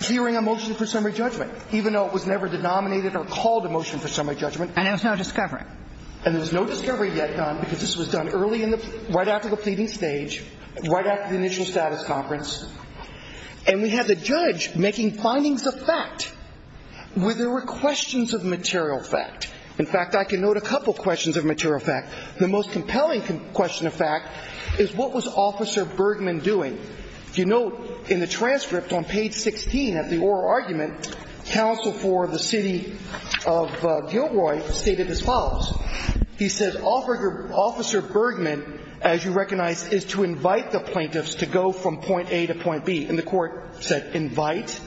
hearing a motion for summary judgment even though it was never denominated or called a motion for summary judgment and there's no discovery and there's no discovery yet done because this was done early in the right after the pleading stage right after the initial status conference and we had the judge making findings of fact where there were questions of material fact in fact I can note a couple questions of material fact the most compelling question of fact is what was officer Bergman doing if you note in the transcript on page 16 at the oral argument counsel for the city of Gilroy stated as follows he says officer Bergman as you recognize is to invite the plaintiffs to go from point A to point B and the court said invite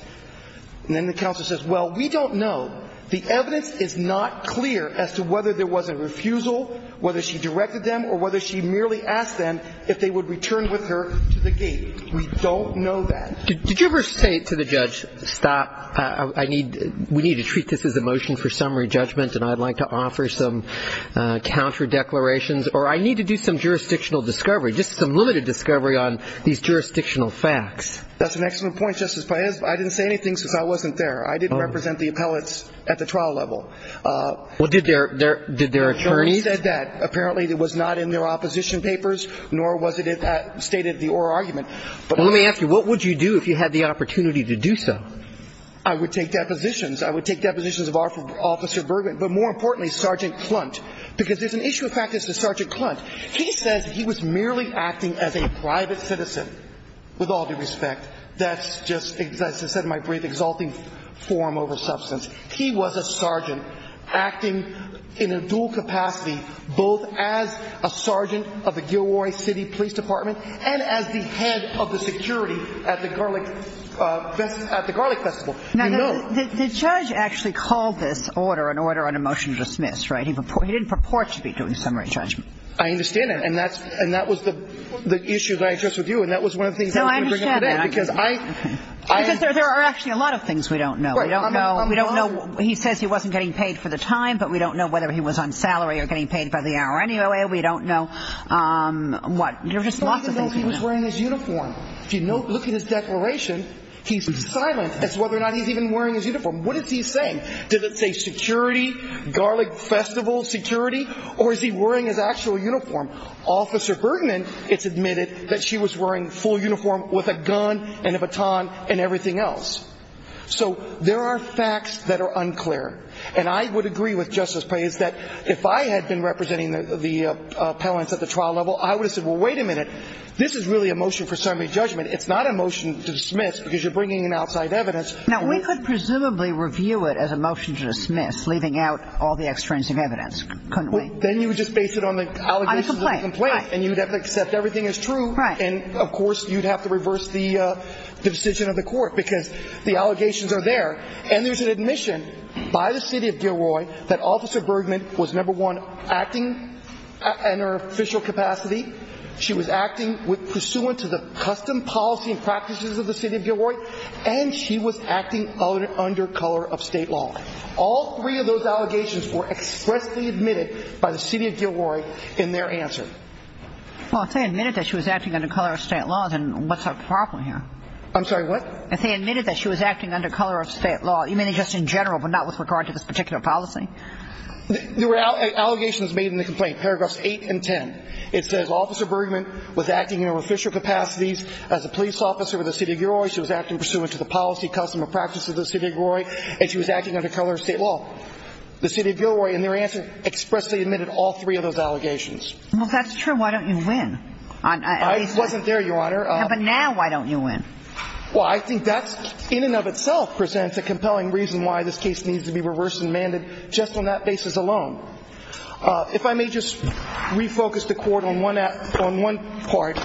and then the counsel says well we don't know the evidence is not clear as to whether there was a refusal whether she directed them or whether she merely asked them if they would return with her to the gate we don't know that did you ever say to the judge stop I need we need to treat this as a motion for summary judgment and I'd like to offer some counter declarations or I need to do some jurisdictional discovery just some limited discovery on these jurisdictional facts that's an excellent point justice Paez I didn't say anything since I wasn't there I didn't represent the appellates at the trial level let me ask you what would you do if you had the opportunity to do so I would take depositions I would take depositions of our officer Bergman but more importantly sergeant Clunt because there's an issue of practice to sergeant Clunt he says he was merely acting as a private citizen with all due respect that's just as I said in my brief exalting forum over substance he was a sergeant acting in a dual capacity both as a sergeant of the Gilroy City Police Department and as the head of the security at the garlic at the garlic festival the judge actually called this order an order on a motion to dismiss right he didn't purport to be doing summary judgment I understand that and that's and that was the issue that I addressed with you and that was one of the things that we would bring up today because there are actually a lot of things we don't know we don't know we don't know he says he wasn't getting paid for the time but we don't know whether he was on salary or getting paid by the hour anyway we don't know what there's lots of things he was wearing his uniform if you look at his declaration he's silent as to whether or not he's even wearing his uniform what is he saying did it say security garlic festival security or is he wearing his actual uniform officer Bergman it's admitted that she was wearing full uniform with a gun and a baton and everything else so there are facts that are unclear and I would agree with justice plays that if I had been representing the appellants at the trial level I would have said well wait a minute this is really a motion for summary judgment it's not a motion to dismiss because you're bringing an outside evidence now we could presumably review it as a motion to dismiss leaving out all the extrinsic evidence then you would just base it on the allegations of the complaint and you'd have to accept everything is true and of course you'd have to reverse the decision of the court because the allegations are there and there's an admission by the city of Gilroy that officer Bergman was number one acting in her official capacity she was acting with pursuant to the custom policy and practices of the city of Gilroy and she was acting under color of state law all three of those allegations were expressly admitted by the city of Gilroy in their answer. Well if they admitted that she was acting under color of state law then what's the problem here? I'm sorry what? If they admitted that she was acting under color of state law you mean just in general but not with regard to this particular policy? There were allegations made in the complaint paragraphs 8 and 10 it says officer Bergman was acting in her official capacities as a police officer with the city of Gilroy she was acting pursuant to the policy custom of practice of the city of Gilroy and she was acting under color of state law the city of Gilroy in their answer expressly admitted all three of those allegations. Well if that's true why don't you win? I wasn't there your honor. Yeah but now why don't you win? Well I think that's in and of itself presents a compelling reason why this case needs to be reversed and amended just on that basis alone. If I may just refocus the court on one part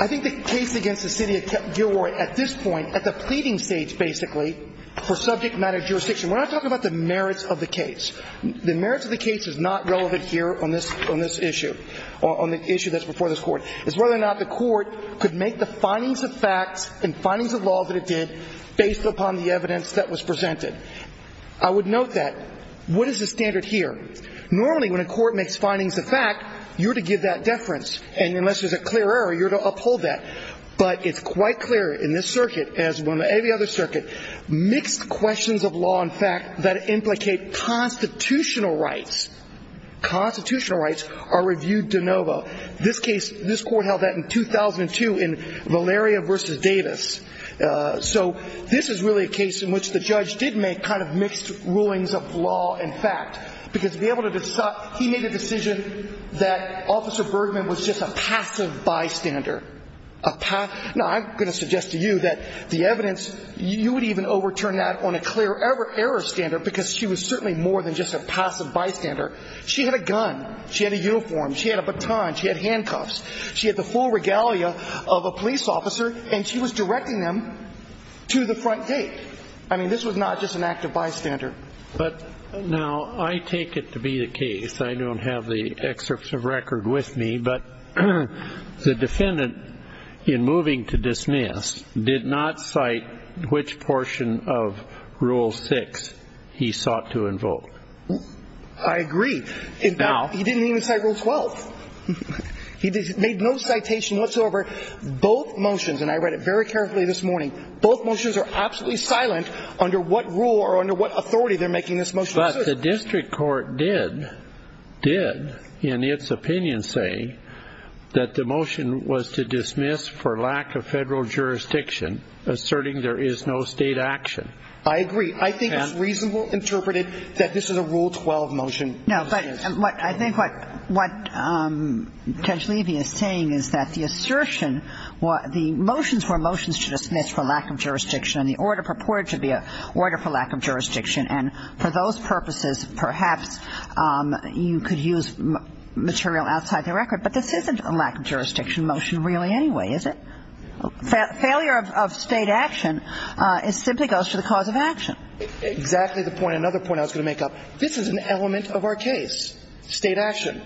I think the case against the city of Gilroy at this point at the pleading stage basically for subject matter jurisdiction we're not talking about the merits of the case the merits of the case is that the city of Gilroy the merits of the case is not relevant here on this on this issue on the issue that's before this court. It's whether or not the court could make the findings of facts and findings of law that it did based upon the evidence that was presented. I would note that what is the standard here? Normally when a court makes findings of fact you're to give that deference and unless there's a clear error you're to uphold that but it's quite clear in this circuit as well as every other circuit mixed questions of law and fact that implicate constitutional rights constitutional rights are reviewed de novo this case this court held that in 2002 in Valeria vs. Davis so this is really a case in which the judge did make kind of mixed rulings of law and fact because to be able to decide he made a decision that officer Bergman was just a passive bystander. Now I'm going to suggest to you that the evidence you would even overturn that on a clear error standard because she was certainly more than just a passive bystander. She had a gun, she had a uniform, she had a baton, she had handcuffs, she had the full regalia of a police officer and she was directing them to the front gate. I mean this was not just an active bystander. But now I take it to be the case, I don't have the excerpts of record with me, but the defendant in moving to dismiss did not cite which portion of Rule 6 he sought to invoke. I agree. He didn't even cite Rule 12. He made no citation whatsoever. Both motions, and I read it very carefully this morning, both motions are absolutely silent under what rule or under what authority they're making this motion. But the district court did in its opinion say that the motion was to dismiss for lack of federal jurisdiction asserting there is no state action. I agree. I think it's reasonable interpreted that this is a Rule 12 motion. No, but I think what Judge Levy is saying is that the assertion, the motions were motions to dismiss for lack of jurisdiction and the order purported to be an order for lack of jurisdiction. And for those purposes perhaps you could use material outside the record. But this isn't a lack of jurisdiction motion really anyway, is it? Failure of state action is simply goes to the cause of action. Exactly the point, another point I was going to make up. This is an element of our case, state action.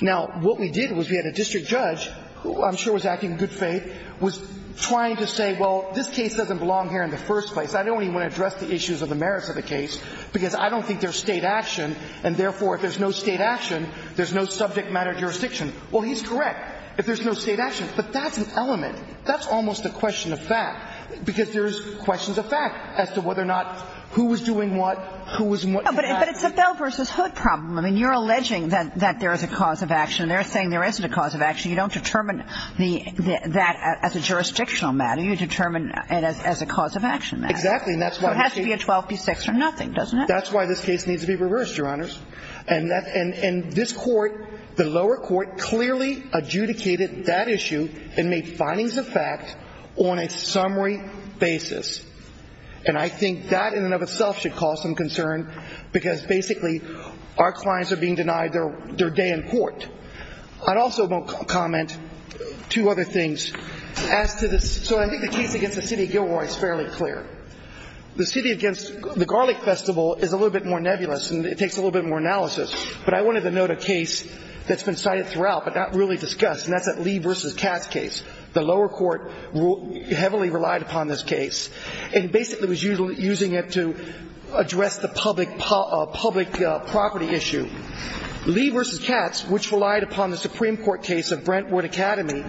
Now, what we did was we had a district judge who I'm sure was acting in good faith, was trying to say, well, this case doesn't belong here in the first place. I don't even want to address the issues of the merits of the case because I don't think there's state action. And therefore, if there's no state action, there's no subject matter jurisdiction. Well, he's correct. If there's no state action. But that's an element. That's almost a question of fact. Because there's questions of fact as to whether or not who was doing what, who was what. But it's a Bell v. Hood problem. I mean, you're alleging that there is a cause of action. They're saying there isn't a cause of action. You don't determine that as a jurisdictional matter. You determine it as a cause of action matter. Exactly. And that's why this case needs to be reversed, Your Honors. And this court, the lower court, clearly adjudicated that issue and made findings of fact on a summary basis. And I think that in and of itself should cause some concern because basically our clients are being denied their day in court. I'd also comment two other things. So I think the case against the City of Gilroy is fairly clear. The City against the Garlic Festival is a little bit more nebulous and it takes a little bit more analysis. But I wanted to note a case that's been cited throughout but not really discussed, and that's that Lee v. Katz case. The lower court heavily relied upon this case and basically was using it to address the public property issue. Lee v. Katz, which relied upon the Supreme Court case of Brentwood Academy,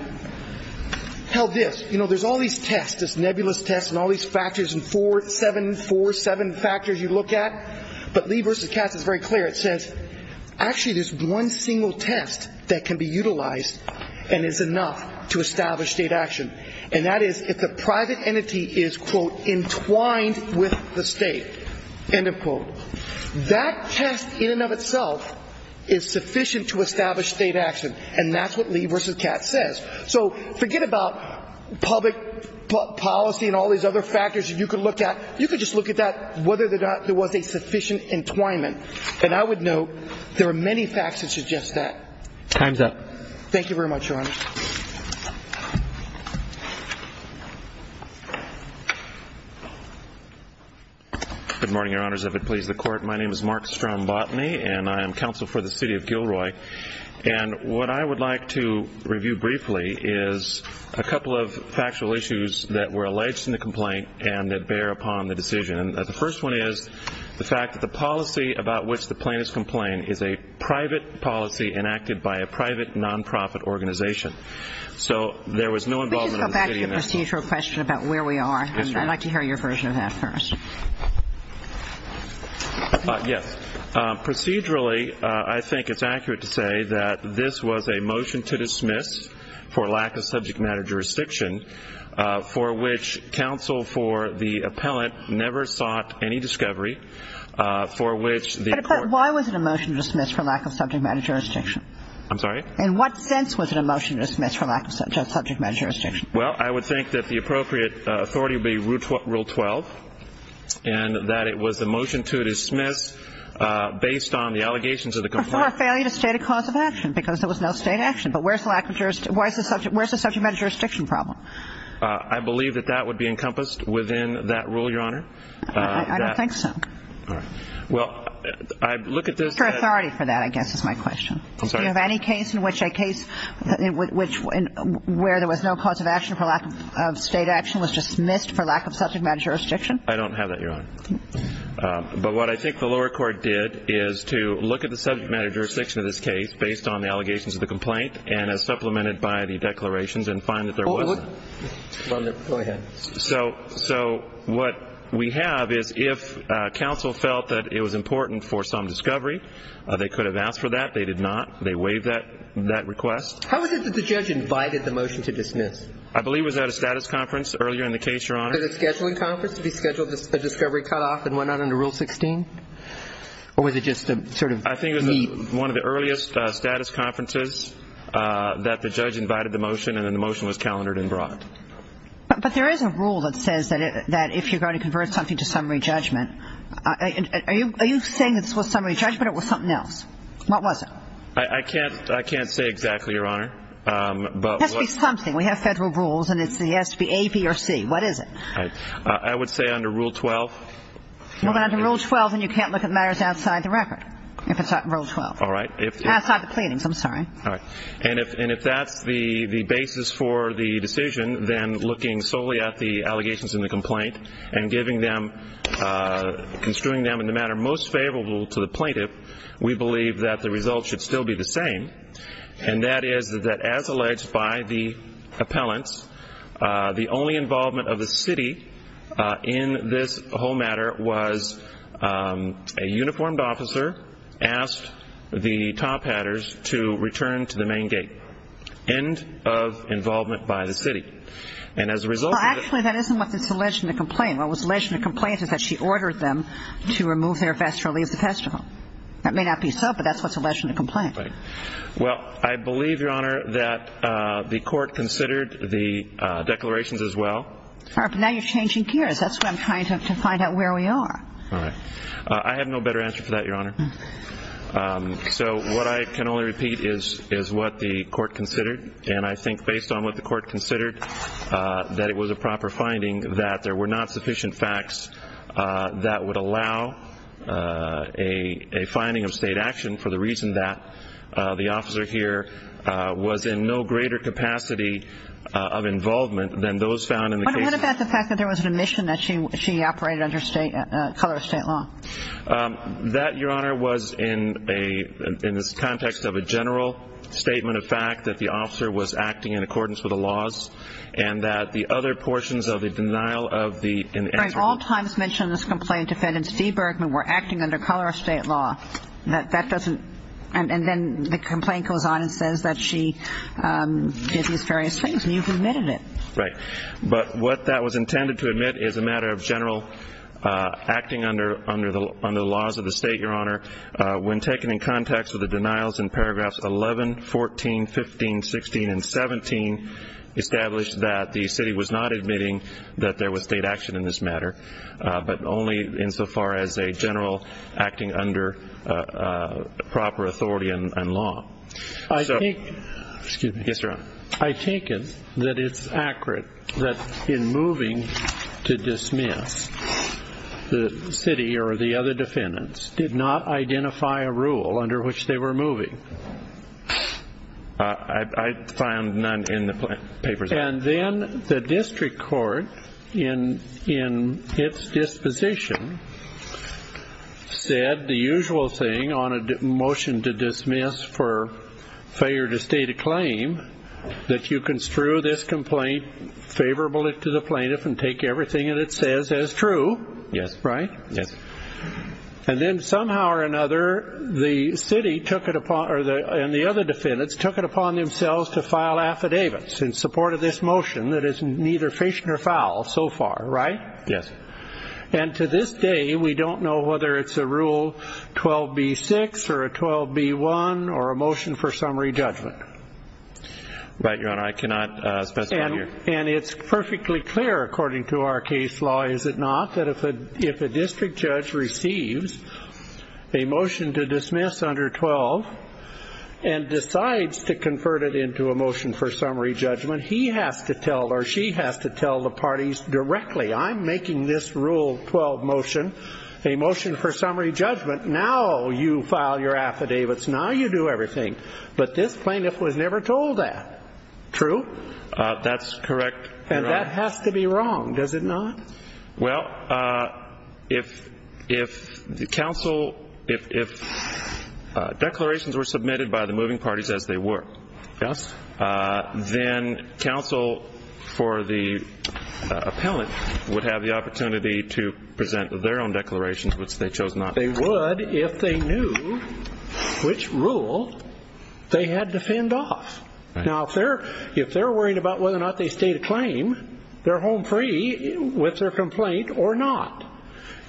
held this. You know, there's all these tests, this nebulous test and all these factors and four, seven, four, seven factors you look at. But Lee v. Katz is very clear. It says actually there's one single test that can be utilized and is enough to establish state action. And that is if the private entity is, quote, entwined with the state, end of quote. That test in and of itself is sufficient to establish state action. And that's what Lee v. Katz says. So forget about public policy and all these other factors that you could look at. You could just look at that, whether or not there was a sufficient entwinement. And I would note there are many facts that suggest that. Time's up. Thank you very much, Your Honor. Good morning, Your Honors. If it please the Court, my name is Mark Strom Botany and I am counsel for the City of Gilroy. And what I would like to review briefly is a couple of factual issues that were alleged in the complaint and that bear upon the decision. The first one is the fact that the policy about which the plaintiff's complaint is a private policy enacted by a private nonprofit organization. So there was no involvement of the city in that. Could you go back to the procedural question about where we are? Yes, Your Honor. I'd like to hear your version of that first. Yes. Procedurally, I think it's accurate to say that this was a motion to dismiss for lack of subject matter jurisdiction, for which counsel for the appellant never sought any discovery, for which the Court ---- But why was it a motion to dismiss for lack of subject matter jurisdiction? I'm sorry? In what sense was it a motion to dismiss for lack of subject matter jurisdiction? Well, I would think that the appropriate authority would be Rule 12 and that it was a motion to dismiss based on the allegations of the complaint. For a failure to state a cause of action because there was no state action. But where's the lack of jurisdiction? Where's the subject matter jurisdiction problem? I believe that that would be encompassed within that rule, Your Honor. I don't think so. All right. Well, I look at this as ---- For authority for that, I guess, is my question. I'm sorry? Do you have any case in which a case where there was no cause of action for lack of state action was dismissed for lack of subject matter jurisdiction? I don't have that, Your Honor. But what I think the lower court did is to look at the subject matter jurisdiction of this case based on the allegations of the complaint and as supplemented by the declarations and find that there was none. Go ahead. So what we have is if counsel felt that it was important for some discovery, they could have asked for that. They did not. They waived that request. How is it that the judge invited the motion to dismiss? I believe it was at a status conference earlier in the case, Your Honor. Was it a scheduling conference? Did he schedule a discovery cutoff and went on under Rule 16? Or was it just a sort of meet? I think it was one of the earliest status conferences that the judge invited the motion, and then the motion was calendared and brought. But there is a rule that says that if you're going to convert something to summary judgment, are you saying that this was summary judgment or it was something else? What was it? I can't say exactly, Your Honor. It has to be something. We have federal rules, and it has to be A, B, or C. What is it? I would say under Rule 12. Well, under Rule 12, then you can't look at matters outside the record if it's not in Rule 12. All right. Outside the pleadings, I'm sorry. All right. And if that's the basis for the decision, then looking solely at the allegations in the complaint and construing them in the manner most favorable to the plaintiff, we believe that the results should still be the same. And that is that as alleged by the appellants, the only involvement of the city in this whole matter was a uniformed officer asked the top hatters to return to the main gate. End of involvement by the city. Well, actually, that isn't what's alleged in the complaint. What was alleged in the complaint is that she ordered them to remove their vest or leave the festival. That may not be so, but that's what's alleged in the complaint. Well, I believe, Your Honor, that the court considered the declarations as well. All right. But now you're changing gears. That's what I'm trying to find out where we are. All right. I have no better answer for that, Your Honor. So what I can only repeat is what the court considered. And I think based on what the court considered, that it was a proper finding that there were not sufficient facts that would allow a finding of state action for the reason that the officer here was in no greater capacity of involvement than those found in the case. What about the fact that there was an admission that she operated under color of state law? That, Your Honor, was in the context of a general statement of fact, that the officer was acting in accordance with the laws, and that the other portions of the denial of the answer. Frank, all times mentioned in this complaint, defendants Feebergman were acting under color of state law. That doesn't – and then the complaint goes on and says that she did these various things. And you've admitted it. Right. But what that was intended to admit is a matter of general acting under the laws of the state, Your Honor. When taken in context with the denials in paragraphs 11, 14, 15, 16, and 17, established that the city was not admitting that there was state action in this matter, but only insofar as a general acting under proper authority and law. I think – excuse me. Yes, Your Honor. I take it that it's accurate that in moving to dismiss, the city or the other defendants did not identify a rule under which they were moving. I found none in the papers. And then the district court, in its disposition, said the usual thing on a motion to dismiss for failure to state a claim, that you construe this complaint favorable to the plaintiff and take everything that it says as true. Yes. Right? Yes. And then somehow or another, the city took it upon – and the other defendants took it upon themselves to file affidavits in support of this motion that is neither fish nor fowl so far, right? Yes. And to this day, we don't know whether it's a Rule 12b-6 or a 12b-1 or a motion for summary judgment. Right, Your Honor. I cannot specify here. And it's perfectly clear, according to our case law, is it not, that if a district judge receives a motion to dismiss under 12 and decides to convert it into a motion for summary judgment, he has to tell or she has to tell the parties directly, I'm making this Rule 12 motion a motion for summary judgment. Now you file your affidavits. Now you do everything. But this plaintiff was never told that. True? That's correct, Your Honor. And that has to be wrong, does it not? Well, if the counsel – if declarations were submitted by the moving parties as they were, then counsel for the appellant would have the opportunity to present their own declarations, which they chose not to. They would if they knew which rule they had to fend off. Now if they're worried about whether or not they state a claim, they're home free with their complaint or not.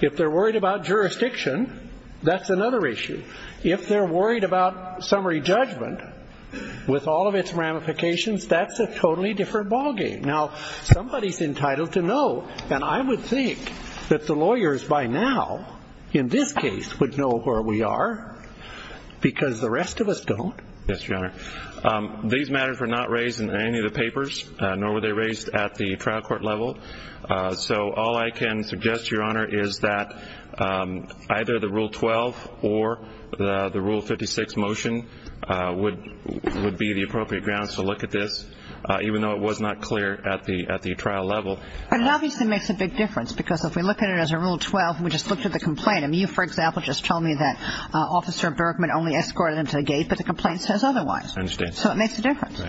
If they're worried about jurisdiction, that's another issue. If they're worried about summary judgment with all of its ramifications, that's a totally different ballgame. Now somebody's entitled to know, and I would think that the lawyers by now in this case would know where we are because the rest of us don't. Yes, Your Honor. These matters were not raised in any of the papers, nor were they raised at the trial court level. So all I can suggest, Your Honor, is that either the Rule 12 or the Rule 56 motion would be the appropriate grounds to look at this, even though it was not clear at the trial level. But it obviously makes a big difference because if we look at it as a Rule 12 and we just looked at the complaint, and you, for example, just told me that Officer Bergman only escorted him to the gate, but the complaint says otherwise. I understand. So it makes a difference.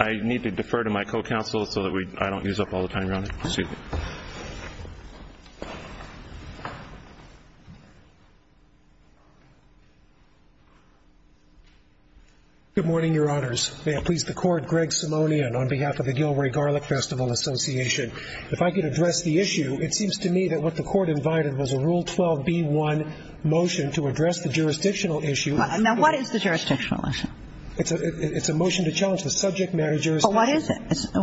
I need to defer to my co-counsel so that I don't use up all the time, Your Honor. Good morning, Your Honors. May it please the Court, Greg Simonian on behalf of the Gilroy Garlic Festival Association. If I could address the issue, it seems to me that what the Court invited was a Rule 12b-1 motion to address the jurisdictional issue. Now what is the jurisdictional issue? It's a motion to challenge the subject matter jurisdiction. Well, what is it?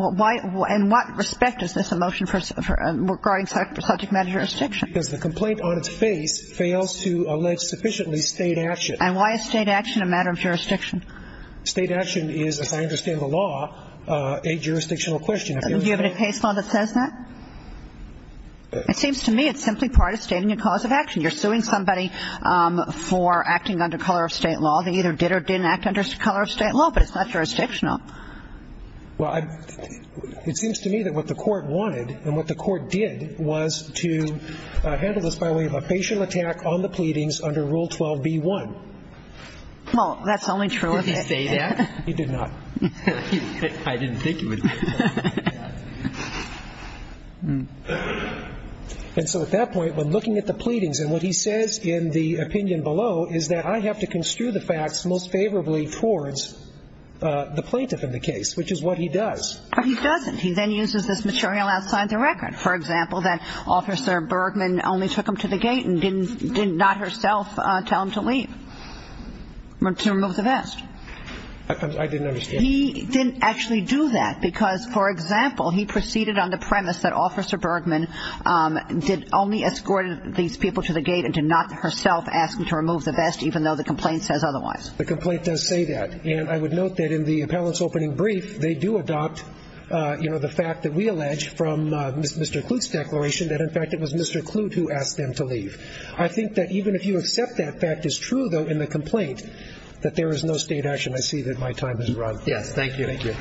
In what respect is this a motion regarding subject matter jurisdiction? Because the complaint on its face fails to allege sufficiently state action. And why is state action a matter of jurisdiction? State action is, as I understand the law, a jurisdictional question. Do you have any case law that says that? It seems to me it's simply part of stating a cause of action. You're suing somebody for acting under color of state law. Well, they either did or didn't act under color of state law, but it's not jurisdictional. Well, it seems to me that what the Court wanted and what the Court did was to handle this by way of a facial attack on the pleadings under Rule 12b-1. Well, that's only true if you say that. Did he say that? He did not. I didn't think he would. And so at that point, when looking at the pleadings, and what he says in the opinion below is that I have to construe the facts most favorably towards the plaintiff in the case, which is what he does. He doesn't. He then uses this material outside the record. For example, that Officer Bergman only took him to the gate and did not herself tell him to leave, to remove the vest. I didn't understand. He didn't actually do that because, for example, he proceeded on the premise that Officer Bergman only escorted these people to the gate and did not herself ask him to remove the vest, even though the complaint says otherwise. The complaint does say that. And I would note that in the appellant's opening brief, they do adopt the fact that we allege from Mr. Clute's declaration that, in fact, it was Mr. Clute who asked them to leave. I think that even if you accept that fact is true, though, in the complaint, that there is no state action. I see that my time has run. Yes. Thank you. Thank you.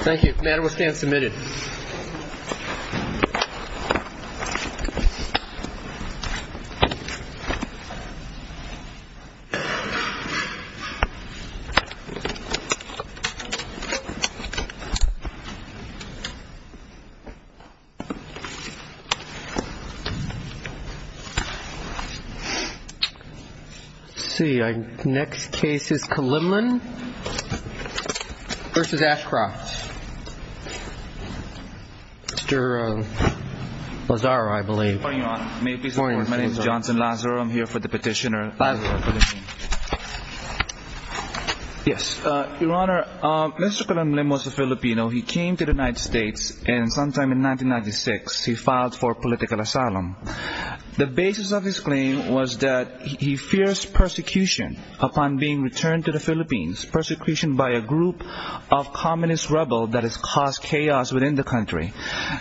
Thank you. The matter will stand submitted. Let's see. Next case is Kalimlan v. Ashcroft. Mr. Lazaro, I believe. Good morning, Your Honor. May peace be with you. My name is Johnson Lazaro. I'm here for the petitioner. Lazaro, for the petition. Yes. Your Honor, Mr. Kalimlan was a Filipino. He came to the United States, and sometime in 1996, he filed for political asylum. The basis of his claim was that he fears persecution upon being returned to the Philippines, persecution by a group of communist rebels that has caused chaos within the country.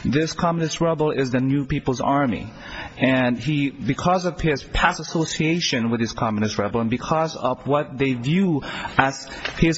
This communist rebel is the New People's Army. And he, because of his past association with this communist rebel, and because of what they view as his...